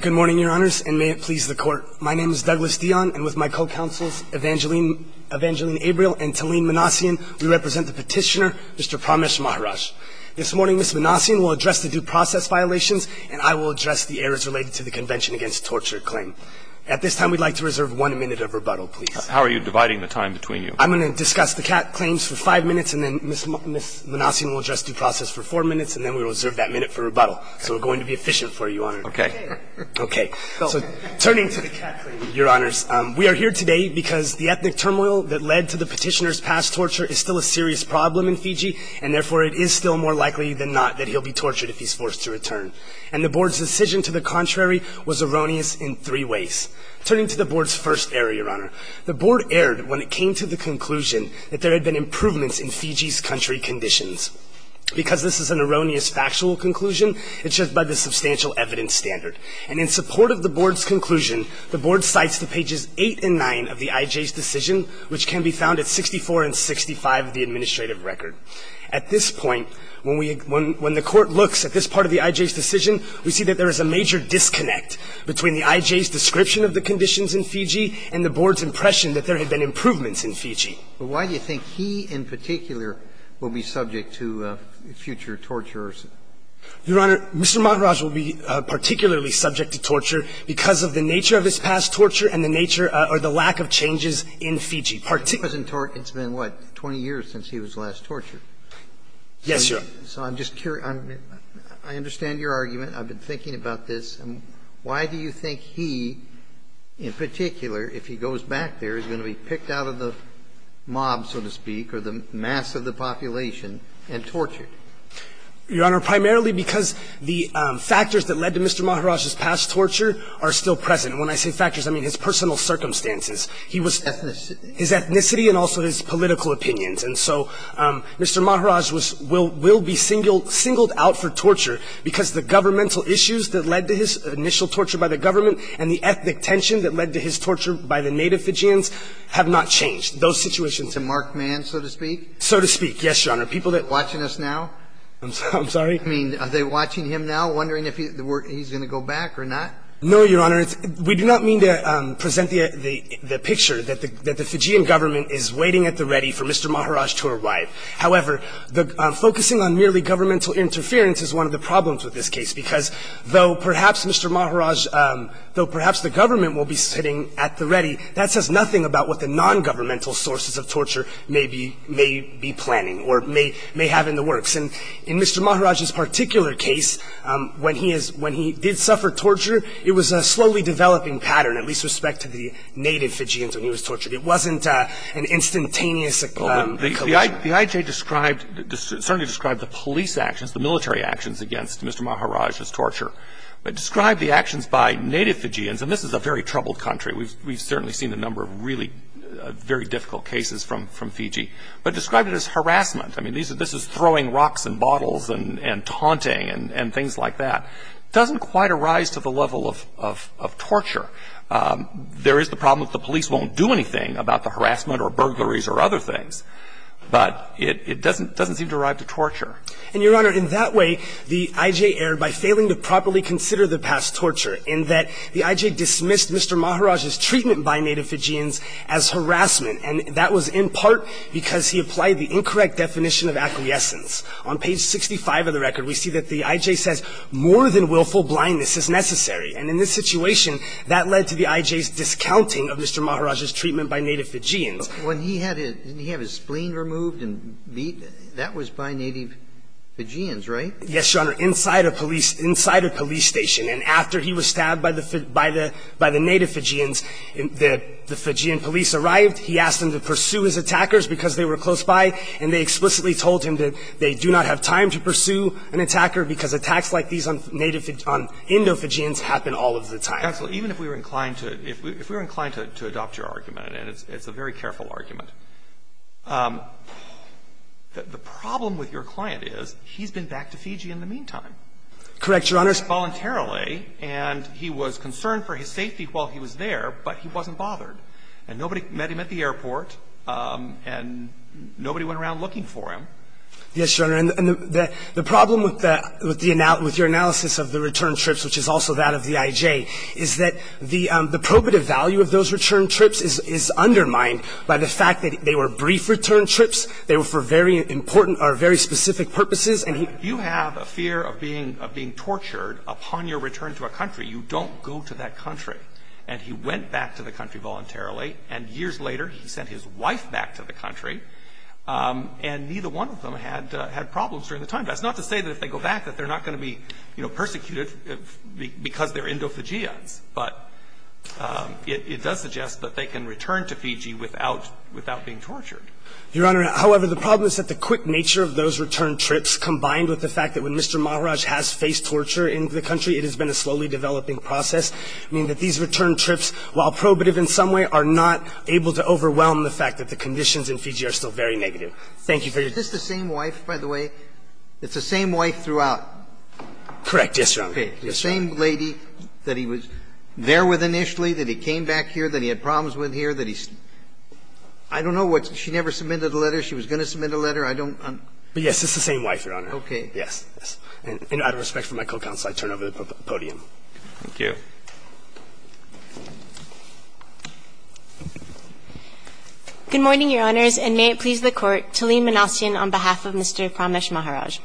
Good morning, Your Honors, and may it please the Court. My name is Douglas Dionne, and with my co-counsels Evangeline Abriel and Taleen Manassian, we represent the petitioner, Mr. Pramesh Maharaj. This morning, Ms. Manassian will address the due process violations, and I will address the errors related to the Convention Against Torture claim. At this time, we'd like to reserve one minute of rebuttal, please. How are you dividing the time between you? I'm going to discuss the claims for five minutes, and then Ms. Manassian will address due process for four minutes, and then we'll reserve that minute for rebuttal. So we're going to be efficient for you, Your Honor. Okay. Okay. So turning to the CAT claim, Your Honors, we are here today because the ethnic turmoil that led to the petitioner's past torture is still a serious problem in Fiji, and therefore it is still more likely than not that he'll be tortured if he's forced to return. And the Board's decision to the contrary was erroneous in three ways. Turning to the Board's first error, Your Honor, the Board erred when it came to the conclusion that there had been improvements in Fiji's country conditions. Because this is an erroneous factual conclusion, it's just by the substantial evidence standard. And in support of the Board's conclusion, the Board cites to pages 8 and 9 of the IJ's decision, which can be found at 64 and 65 of the administrative record. At this point, when we – when the Court looks at this part of the IJ's decision, we see that there is a major disconnect between the IJ's description of the conditions in Fiji and the Board's impression that there had been improvements in Fiji. But why do you think he in particular will be subject to future tortures? Your Honor, Mr. Mataraj will be particularly subject to torture because of the nature of his past torture and the nature or the lack of changes in Fiji. It's been, what, 20 years since he was last tortured? Yes, Your Honor. So I'm just curious. I understand your argument. I've been thinking about this. And why do you think he in particular, if he goes back there, is going to be picked out of the mob, so to speak, or the mass of the population, and tortured? Your Honor, primarily because the factors that led to Mr. Mataraj's past torture are still present. When I say factors, I mean his personal circumstances. He was ethnicity. His ethnicity and also his political opinions. And so Mr. Mataraj was – will be singled out for torture because the governmental issues that led to his initial torture by the government and the ethnic tension that led to his torture by the native Fijians have not changed. Those situations – To mark man, so to speak? So to speak, yes, Your Honor. People that – Watching us now? I'm sorry? I mean, are they watching him now, wondering if he's going to go back or not? No, Your Honor. We do not mean to present the picture that the Fijian government is waiting at the ready for Mr. Mataraj to arrive. However, focusing on merely governmental interference is one of the problems with this case, because though perhaps Mr. Mataraj – though perhaps the government will be sitting at the ready, that says nothing about what the nongovernmental sources of torture may be – may be planning or may – may have in the works. And in Mr. Mataraj's particular case, when he is – when he did suffer torture, it was a slowly developing pattern, at least with respect to the native Fijians when he was tortured. It wasn't an instantaneous collision. The IJ described – certainly described the police actions, the military actions against Mr. Mataraj's torture, but described the actions by native Fijians. And this is a very troubled country. We've certainly seen a number of really very difficult cases from Fiji. But described it as harassment. I mean, this is throwing rocks and bottles and taunting and things like that. It doesn't quite arise to the level of torture. There is the problem that the police won't do anything about the harassment or burglaries or other things. But it doesn't seem to arrive to torture. And, Your Honor, in that way, the IJ erred by failing to properly consider the past torture in that the IJ dismissed Mr. Mataraj's treatment by native Fijians as harassment. And that was in part because he applied the incorrect definition of acquiescence. On page 65 of the record, we see that the IJ says, More than willful blindness is necessary. And in this situation, that led to the IJ's discounting of Mr. Mataraj's treatment by native Fijians. When he had his spleen removed and beat, that was by native Fijians, right? Yes, Your Honor. Inside a police station. And after he was stabbed by the native Fijians, the Fijian police arrived. He asked them to pursue his attackers because they were close by. And they explicitly told him that they do not have time to pursue an attacker because attacks like these on native Indo-Fijians happen all of the time. Counsel, even if we were inclined to adopt your argument, and it's a very careful argument, the problem with your client is he's been back to Fiji in the meantime. Correct, Your Honor. Voluntarily. And he was concerned for his safety while he was there, but he wasn't bothered. And nobody met him at the airport. And nobody went around looking for him. Yes, Your Honor. And the problem with your analysis of the return trips, which is also that of the IJ, is that the probative value of those return trips is undermined by the fact that they were brief return trips. They were for very important or very specific purposes. You have a fear of being tortured upon your return to a country. You don't go to that country. And he went back to the country voluntarily. And years later, he sent his wife back to the country. And neither one of them had problems during the time. That's not to say that if they go back that they're not going to be, you know, subjected to the GIAs, but it does suggest that they can return to Fiji without being tortured. Your Honor, however, the problem is that the quick nature of those return trips combined with the fact that when Mr. Maharaj has faced torture in the country, it has been a slowly developing process. I mean, that these return trips, while probative in some way, are not able to overwhelm the fact that the conditions in Fiji are still very negative. Thank you for your time. Is this the same wife, by the way? It's the same wife throughout? Correct. Yes, Your Honor. Okay. The same lady that he was there with initially, that he came back here, that he had problems with here, that he's – I don't know what's – she never submitted a letter. She was going to submit a letter. I don't – Yes, it's the same wife, Your Honor. Okay. Yes. And out of respect for my co-counsel, I turn over the podium. Thank you. Good morning, Your Honors, and may it please the Court to lean Manasian on behalf of Mr. Pramesh Maharaj.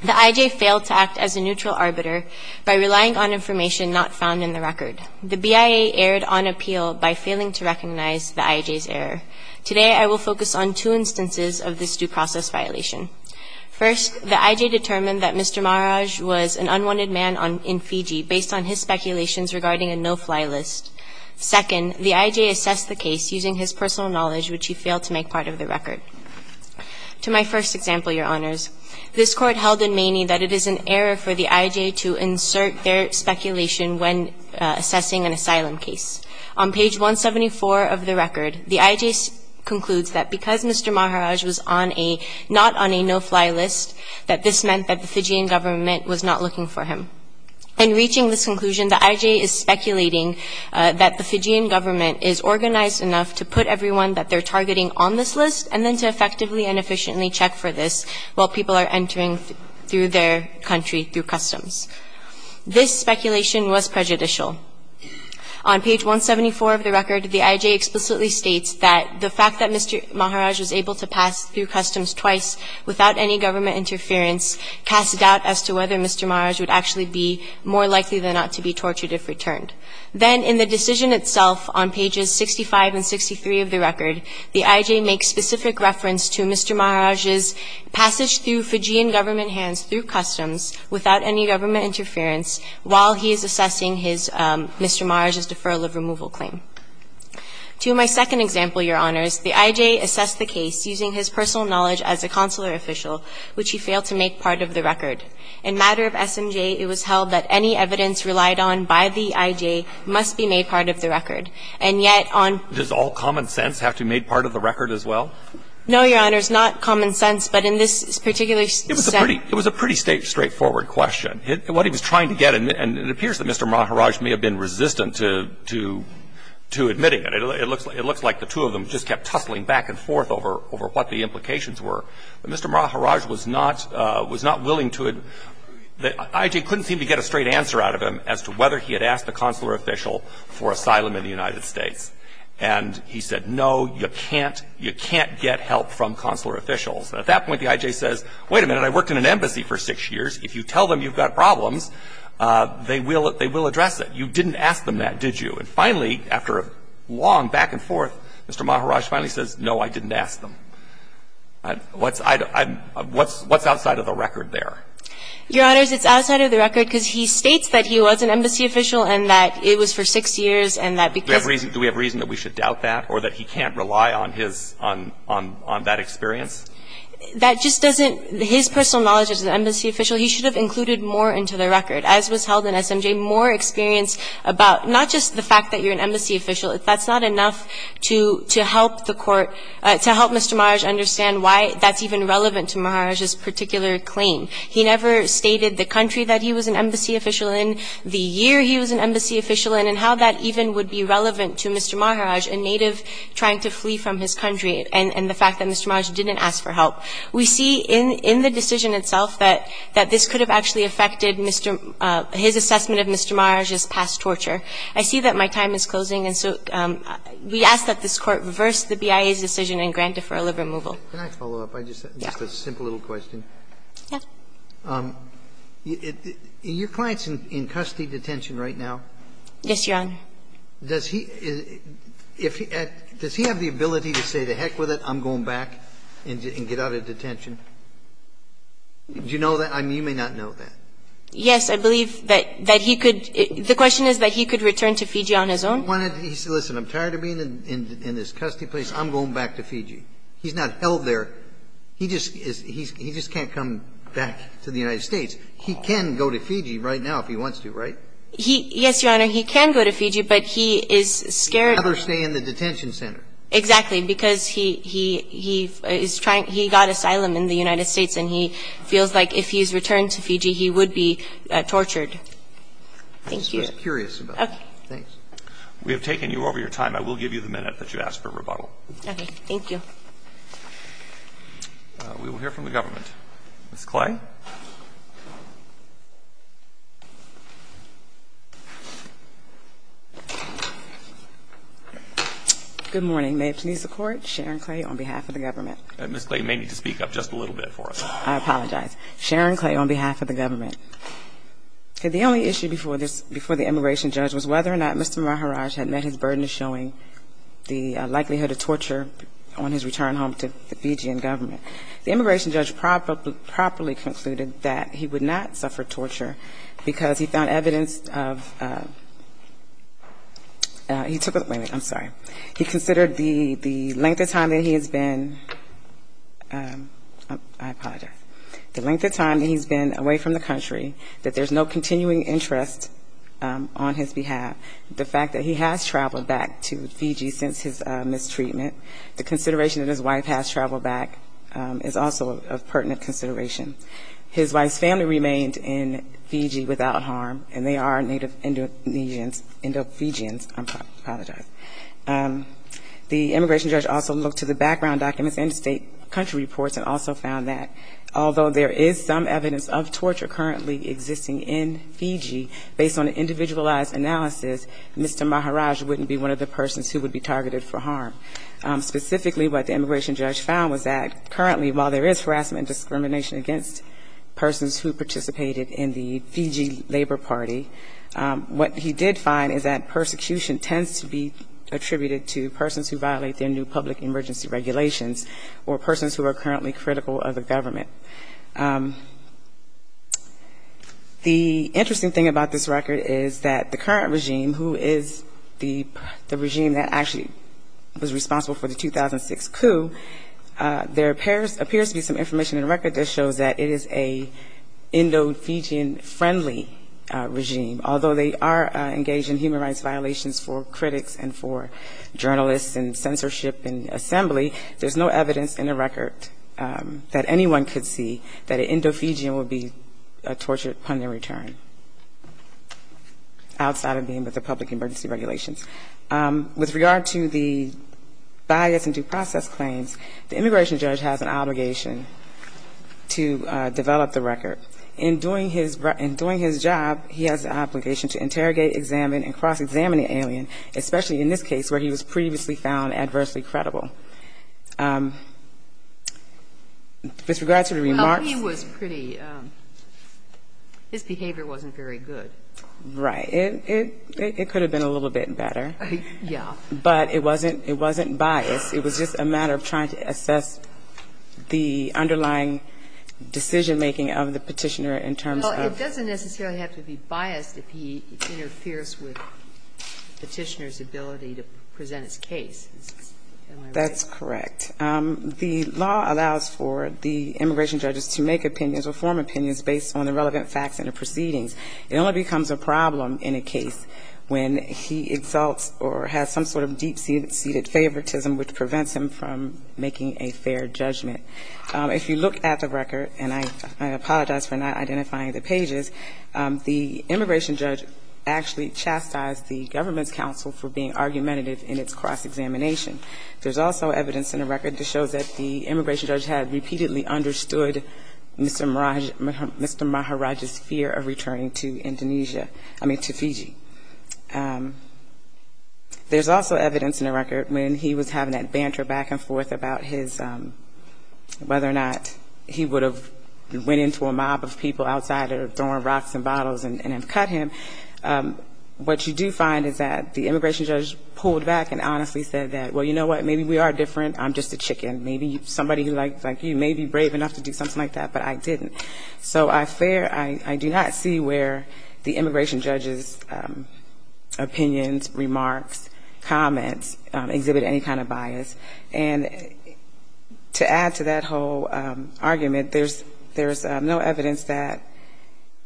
The IJ failed to act as a neutral arbiter by relying on information not found in the record. The BIA erred on appeal by failing to recognize the IJ's error. Today, I will focus on two instances of this due process violation. First, the IJ determined that Mr. Maharaj was an unwanted man in Fiji based on his speculations regarding a no-fly list. Second, the IJ assessed the case using his personal knowledge, which he failed to make part of the record. To my first example, Your Honors, this Court held in Maney that it is an error for the IJ to insert their speculation when assessing an asylum case. On page 174 of the record, the IJ concludes that because Mr. Maharaj was on a – not on a no-fly list, that this meant that the Fijian government was not looking for him. In reaching this conclusion, the IJ is speculating that the Fijian government is organized enough to put everyone that they're targeting on this list and then to effectively and efficiently check for this while people are entering through their country through customs. This speculation was prejudicial. On page 174 of the record, the IJ explicitly states that the fact that Mr. Maharaj was able to pass through customs twice without any government interference casts doubt as to whether Mr. Maharaj would actually be more likely than not to be tortured if returned. Then in the decision itself on pages 65 and 63 of the record, the IJ makes specific reference to Mr. Maharaj's passage through Fijian government hands through customs without any government interference while he is assessing his – Mr. Maharaj's deferral of removal claim. To my second example, Your Honors, the IJ assessed the case using his personal knowledge as a consular official, which he failed to make part of the record. In matter of SMJ, it was held that any evidence relied on by the IJ must be made part of the record, and yet on – Does all common sense have to be made part of the record as well? No, Your Honors. Not common sense, but in this particular – It was a pretty – it was a pretty straightforward question. What he was trying to get, and it appears that Mr. Maharaj may have been resistant to – to admitting it. It looks like the two of them just kept tussling back and forth over what the implications were. But Mr. Maharaj was not – was not willing to – the IJ couldn't seem to get a straight answer out of him as to whether he had asked a consular official for asylum in the United States. And he said, no, you can't – you can't get help from consular officials. At that point, the IJ says, wait a minute, I worked in an embassy for six years. If you tell them you've got problems, they will – they will address it. You didn't ask them that, did you? And finally, after a long back and forth, Mr. Maharaj finally says, no, I didn't ask them. What's – I – what's – what's outside of the record there? Your Honors, it's outside of the record because he states that he was an embassy official and that it was for six years and that because of – Do we have reason – do we have reason that we should doubt that or that he can't rely on his – on – on that experience? That just doesn't – his personal knowledge as an embassy official, he should have included more into the record, as was held in SMJ, more experience about not just the fact that you're an embassy official. That's not enough to – to help the court – to help Mr. Maharaj understand why that's even relevant to Maharaj's particular claim. He never stated the country that he was an embassy official in, the year he was an embassy official in, and how that even would be relevant to Mr. Maharaj, a native trying to flee from his country, and – and the fact that Mr. Maharaj didn't ask for help. We see in – in the decision itself that – that this could have actually affected Mr. – his assessment of Mr. Maharaj's past torture. I see that my time is closing, and so we ask that this Court reverse the BIA's decision and grant deferral of removal. Can I follow up? Yeah. Just a simple little question. Yeah. Your client's in – in custody detention right now. Yes, Your Honor. Does he – if he – does he have the ability to say, to heck with it, I'm going back and get out of detention? Do you know that? I mean, you may not know that. Yes, I believe that – that he could – the question is that he could return to Fiji on his own. Why don't he say, listen, I'm tired of being in – in this custody place. I'm going back to Fiji. He's not held there. He just is – he's – he just can't come back to the United States. He can go to Fiji right now if he wants to, right? He – yes, Your Honor. He can go to Fiji, but he is scared. He'd rather stay in the detention center. Exactly, because he – he – he is trying – he got asylum in the United States, and he feels like if he's returned to Fiji, he would be tortured. Thank you. I'm just curious about that. Okay. Thanks. We have taken you over your time. I will give you the minute that you asked for rebuttal. Okay. Thank you. We will hear from the government. Ms. Clay. Good morning. May it please the Court, Sharon Clay on behalf of the government. Ms. Clay, you may need to speak up just a little bit for us. I apologize. Sharon Clay on behalf of the government. The only issue before the immigration judge was whether or not Mr. Maharaj had met his burden of showing the likelihood of torture on his return home to the Fijian government. The immigration judge properly concluded that he would not suffer torture because he found evidence of – he took – wait a minute. I'm sorry. He considered the length of time that he has been – I apologize. The length of time that he's been away from the country, that there's no continuing interest on his behalf. The fact that he has traveled back to Fiji since his mistreatment, the consideration that his wife has traveled back is also a pertinent consideration. His wife's family remained in Fiji without harm, and they are native Indonesians, Indo-Fijians. I apologize. The immigration judge also looked to the background documents and state country reports and also found that although there is some evidence of torture currently existing in Fiji, based on an individualized analysis, Mr. Maharaj wouldn't be one of the persons who would be targeted for harm. Specifically, what the immigration judge found was that currently, while there is harassment and discrimination against persons who participated in the Fiji Labor Party, what he did find is that persecution tends to be attributed to persons who violate their new public emergency regulations or persons who are currently critical of the government. The interesting thing about this record is that the current regime, who is the regime that actually was responsible for the 2006 coup, there appears to be some information in the record that shows that it is a Indo-Fijian friendly regime, although they are engaged in human rights violations for critics and for journalists and censorship and assembly, there's no evidence in the record that anyone could see that an Indo-Fijian would be tortured upon their return, outside of being with the public emergency regulations. With regard to the bias and due process claims, the immigration judge has an obligation to develop the record. However, in doing his job, he has the obligation to interrogate, examine, and cross-examine the alien, especially in this case where he was previously found adversely credible. With regard to the remarks ---- Well, he was pretty ---- his behavior wasn't very good. Right. It could have been a little bit better. Yeah. But it wasn't bias. It was just a matter of trying to assess the underlying decision-making of the Petitioner in terms of ---- Well, it doesn't necessarily have to be biased if he interferes with Petitioner's ability to present his case. Am I right? That's correct. The law allows for the immigration judges to make opinions or form opinions based on the relevant facts and the proceedings. It only becomes a problem in a case when he exalts or has some sort of deep-seated favoritism which prevents him from making a fair judgment. If you look at the record, and I apologize for not identifying the pages, the immigration judge actually chastised the government's counsel for being argumentative in its cross-examination. There's also evidence in the record that shows that the immigration judge had repeatedly understood Mr. Maharaj's fear of returning to Indonesia ---- I mean, to Fiji. There's also evidence in the record when he was having that banter back and forth about his ---- whether or not he would have went into a mob of people outside or thrown rocks and bottles and have cut him. What you do find is that the immigration judge pulled back and honestly said that, well, you know what, maybe we are different, I'm just a chicken. Maybe somebody like you may be brave enough to do something like that, but I didn't. So I fear ---- I do not see where the immigration judge's opinions, remarks, comments exhibit any kind of bias. And to add to that whole argument, there's no evidence that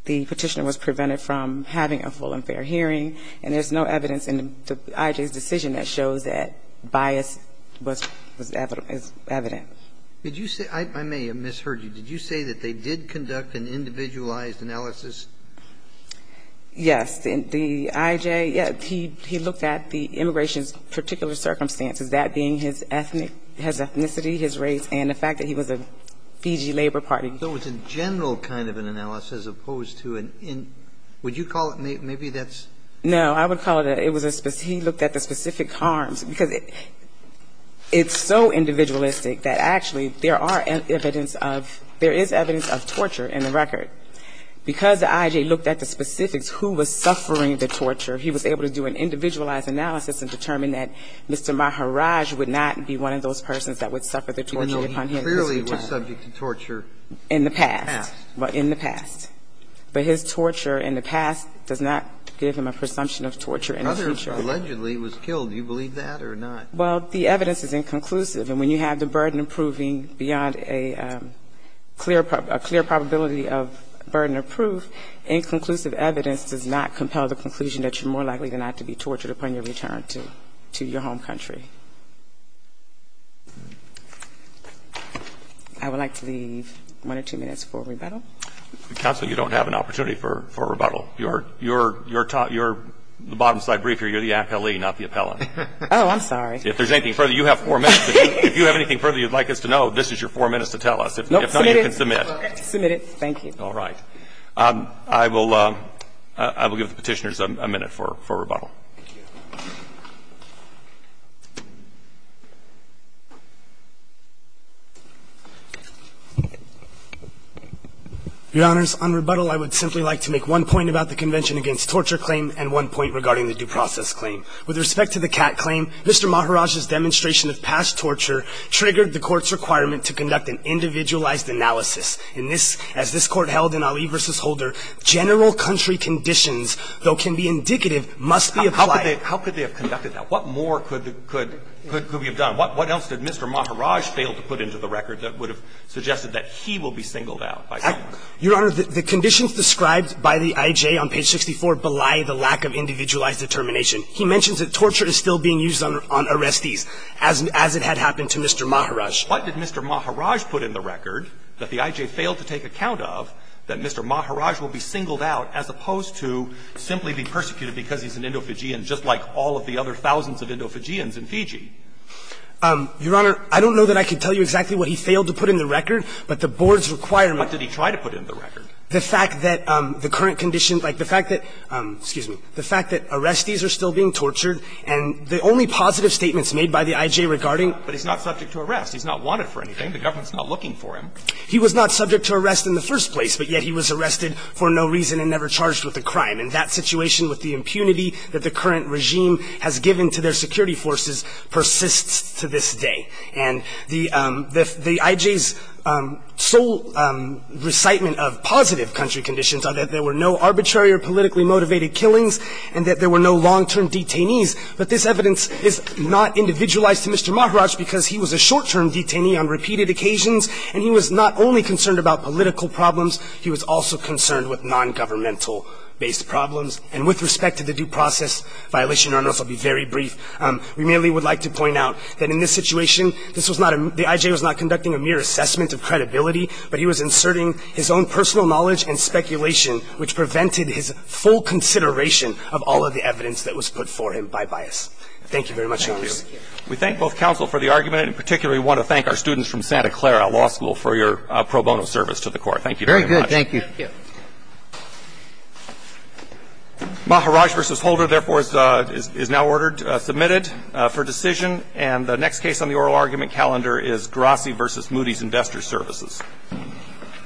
the petitioner was prevented from having a full and fair hearing, and there's no evidence in the IJA's decision that shows that bias was evident. Did you say ---- I may have misheard you. Did you say that they did conduct an individualized analysis? Yes. The IJA, yes, he looked at the immigration's particular circumstances, that being his ethnic ---- his ethnicity, his race, and the fact that he was a Fiji labor party. So it's a general kind of an analysis opposed to an in ---- would you call it maybe that's ---- No. I would call it a ---- it was a ---- he looked at the specific harms, because it's so individualistic that actually there are evidence of ---- there is evidence of torture in the record. Because the IJA looked at the specifics, who was suffering the torture, he was able to do an individualized analysis and determine that Mr. Maharaj would not be one of those persons that would suffer the torture upon him. Even though he clearly was subject to torture in the past. In the past. But in the past. But his torture in the past does not give him a presumption of torture in the future. Others allegedly was killed. Do you believe that or not? Well, the evidence is inconclusive. And when you have the burden of proving beyond a clear ---- a clear probability of burden of proof, inconclusive evidence does not compel the conclusion that you're more likely than not to be tortured upon your return to your home country. I would like to leave one or two minutes for rebuttal. Counsel, you don't have an opportunity for rebuttal. You're ---- you're the bottom slide brief here. You're the appellee, not the appellant. Oh, I'm sorry. If there's anything further, you have 4 minutes. If you have anything further you'd like us to know, this is your 4 minutes to tell us. If not, you can submit. Submit it. Thank you. All right. I will give the Petitioners a minute for rebuttal. Thank you. Your Honors, on rebuttal, I would simply like to make one point about the Convention against Torture Claim and one point regarding the Due Process Claim. With respect to the Catt claim, Mr. Maharaj's demonstration of past torture triggered the Court's requirement to conduct an individualized analysis. In this, as this Court held in Ali v. Holder, general country conditions, though can be indicative, must be applied. How could they have conducted that? What more could we have done? What else did Mr. Maharaj fail to put into the record that would have suggested that he will be singled out by someone? Your Honor, the conditions described by the IJ on page 64 belie the lack of individualized determination. He mentions that torture is still being used on arrestees, as it had happened to Mr. Maharaj. What did Mr. Maharaj put in the record that the IJ failed to take account of that Mr. Maharaj will be singled out as opposed to simply be persecuted because he's an Indo-Fijian, just like all of the other thousands of Indo-Fijians in Fiji? Your Honor, I don't know that I can tell you exactly what he failed to put in the record, but the Board's requirement What did he try to put in the record? The fact that the current conditions, like the fact that, excuse me, the fact that arrestees are still being tortured, and the only positive statements made by the IJ regarding But he's not subject to arrest. He's not wanted for anything. The government's not looking for him. He was not subject to arrest in the first place, but yet he was arrested for no reason and never charged with a crime. And that situation with the impunity that the current regime has given to their security forces persists to this day. And the IJ's sole recitement of positive country conditions are that there were no arbitrary or politically motivated killings and that there were no long-term detainees. But this evidence is not individualized to Mr. Maharaj because he was a short-term detainee on repeated occasions, and he was not only concerned about political problems. He was also concerned with nongovernmental-based problems. And with respect to the due process violation, Your Honor, this will be very brief. We merely would like to point out that in this situation, this was not a – the IJ was not conducting a mere assessment of credibility, but he was inserting his own personal knowledge and speculation, which prevented his full consideration of all of the evidence that was put for him by bias. Thank you very much, Your Honor. Thank you. We thank both counsel for the argument and particularly want to thank our students from Santa Clara Law School for your pro bono service to the Court. Thank you very much. Very good. Thank you. Thank you. Maharaj v. Holder, therefore, is now ordered – submitted for decision. And the next case on the oral argument calendar is Grassy v. Moody's Investor Services.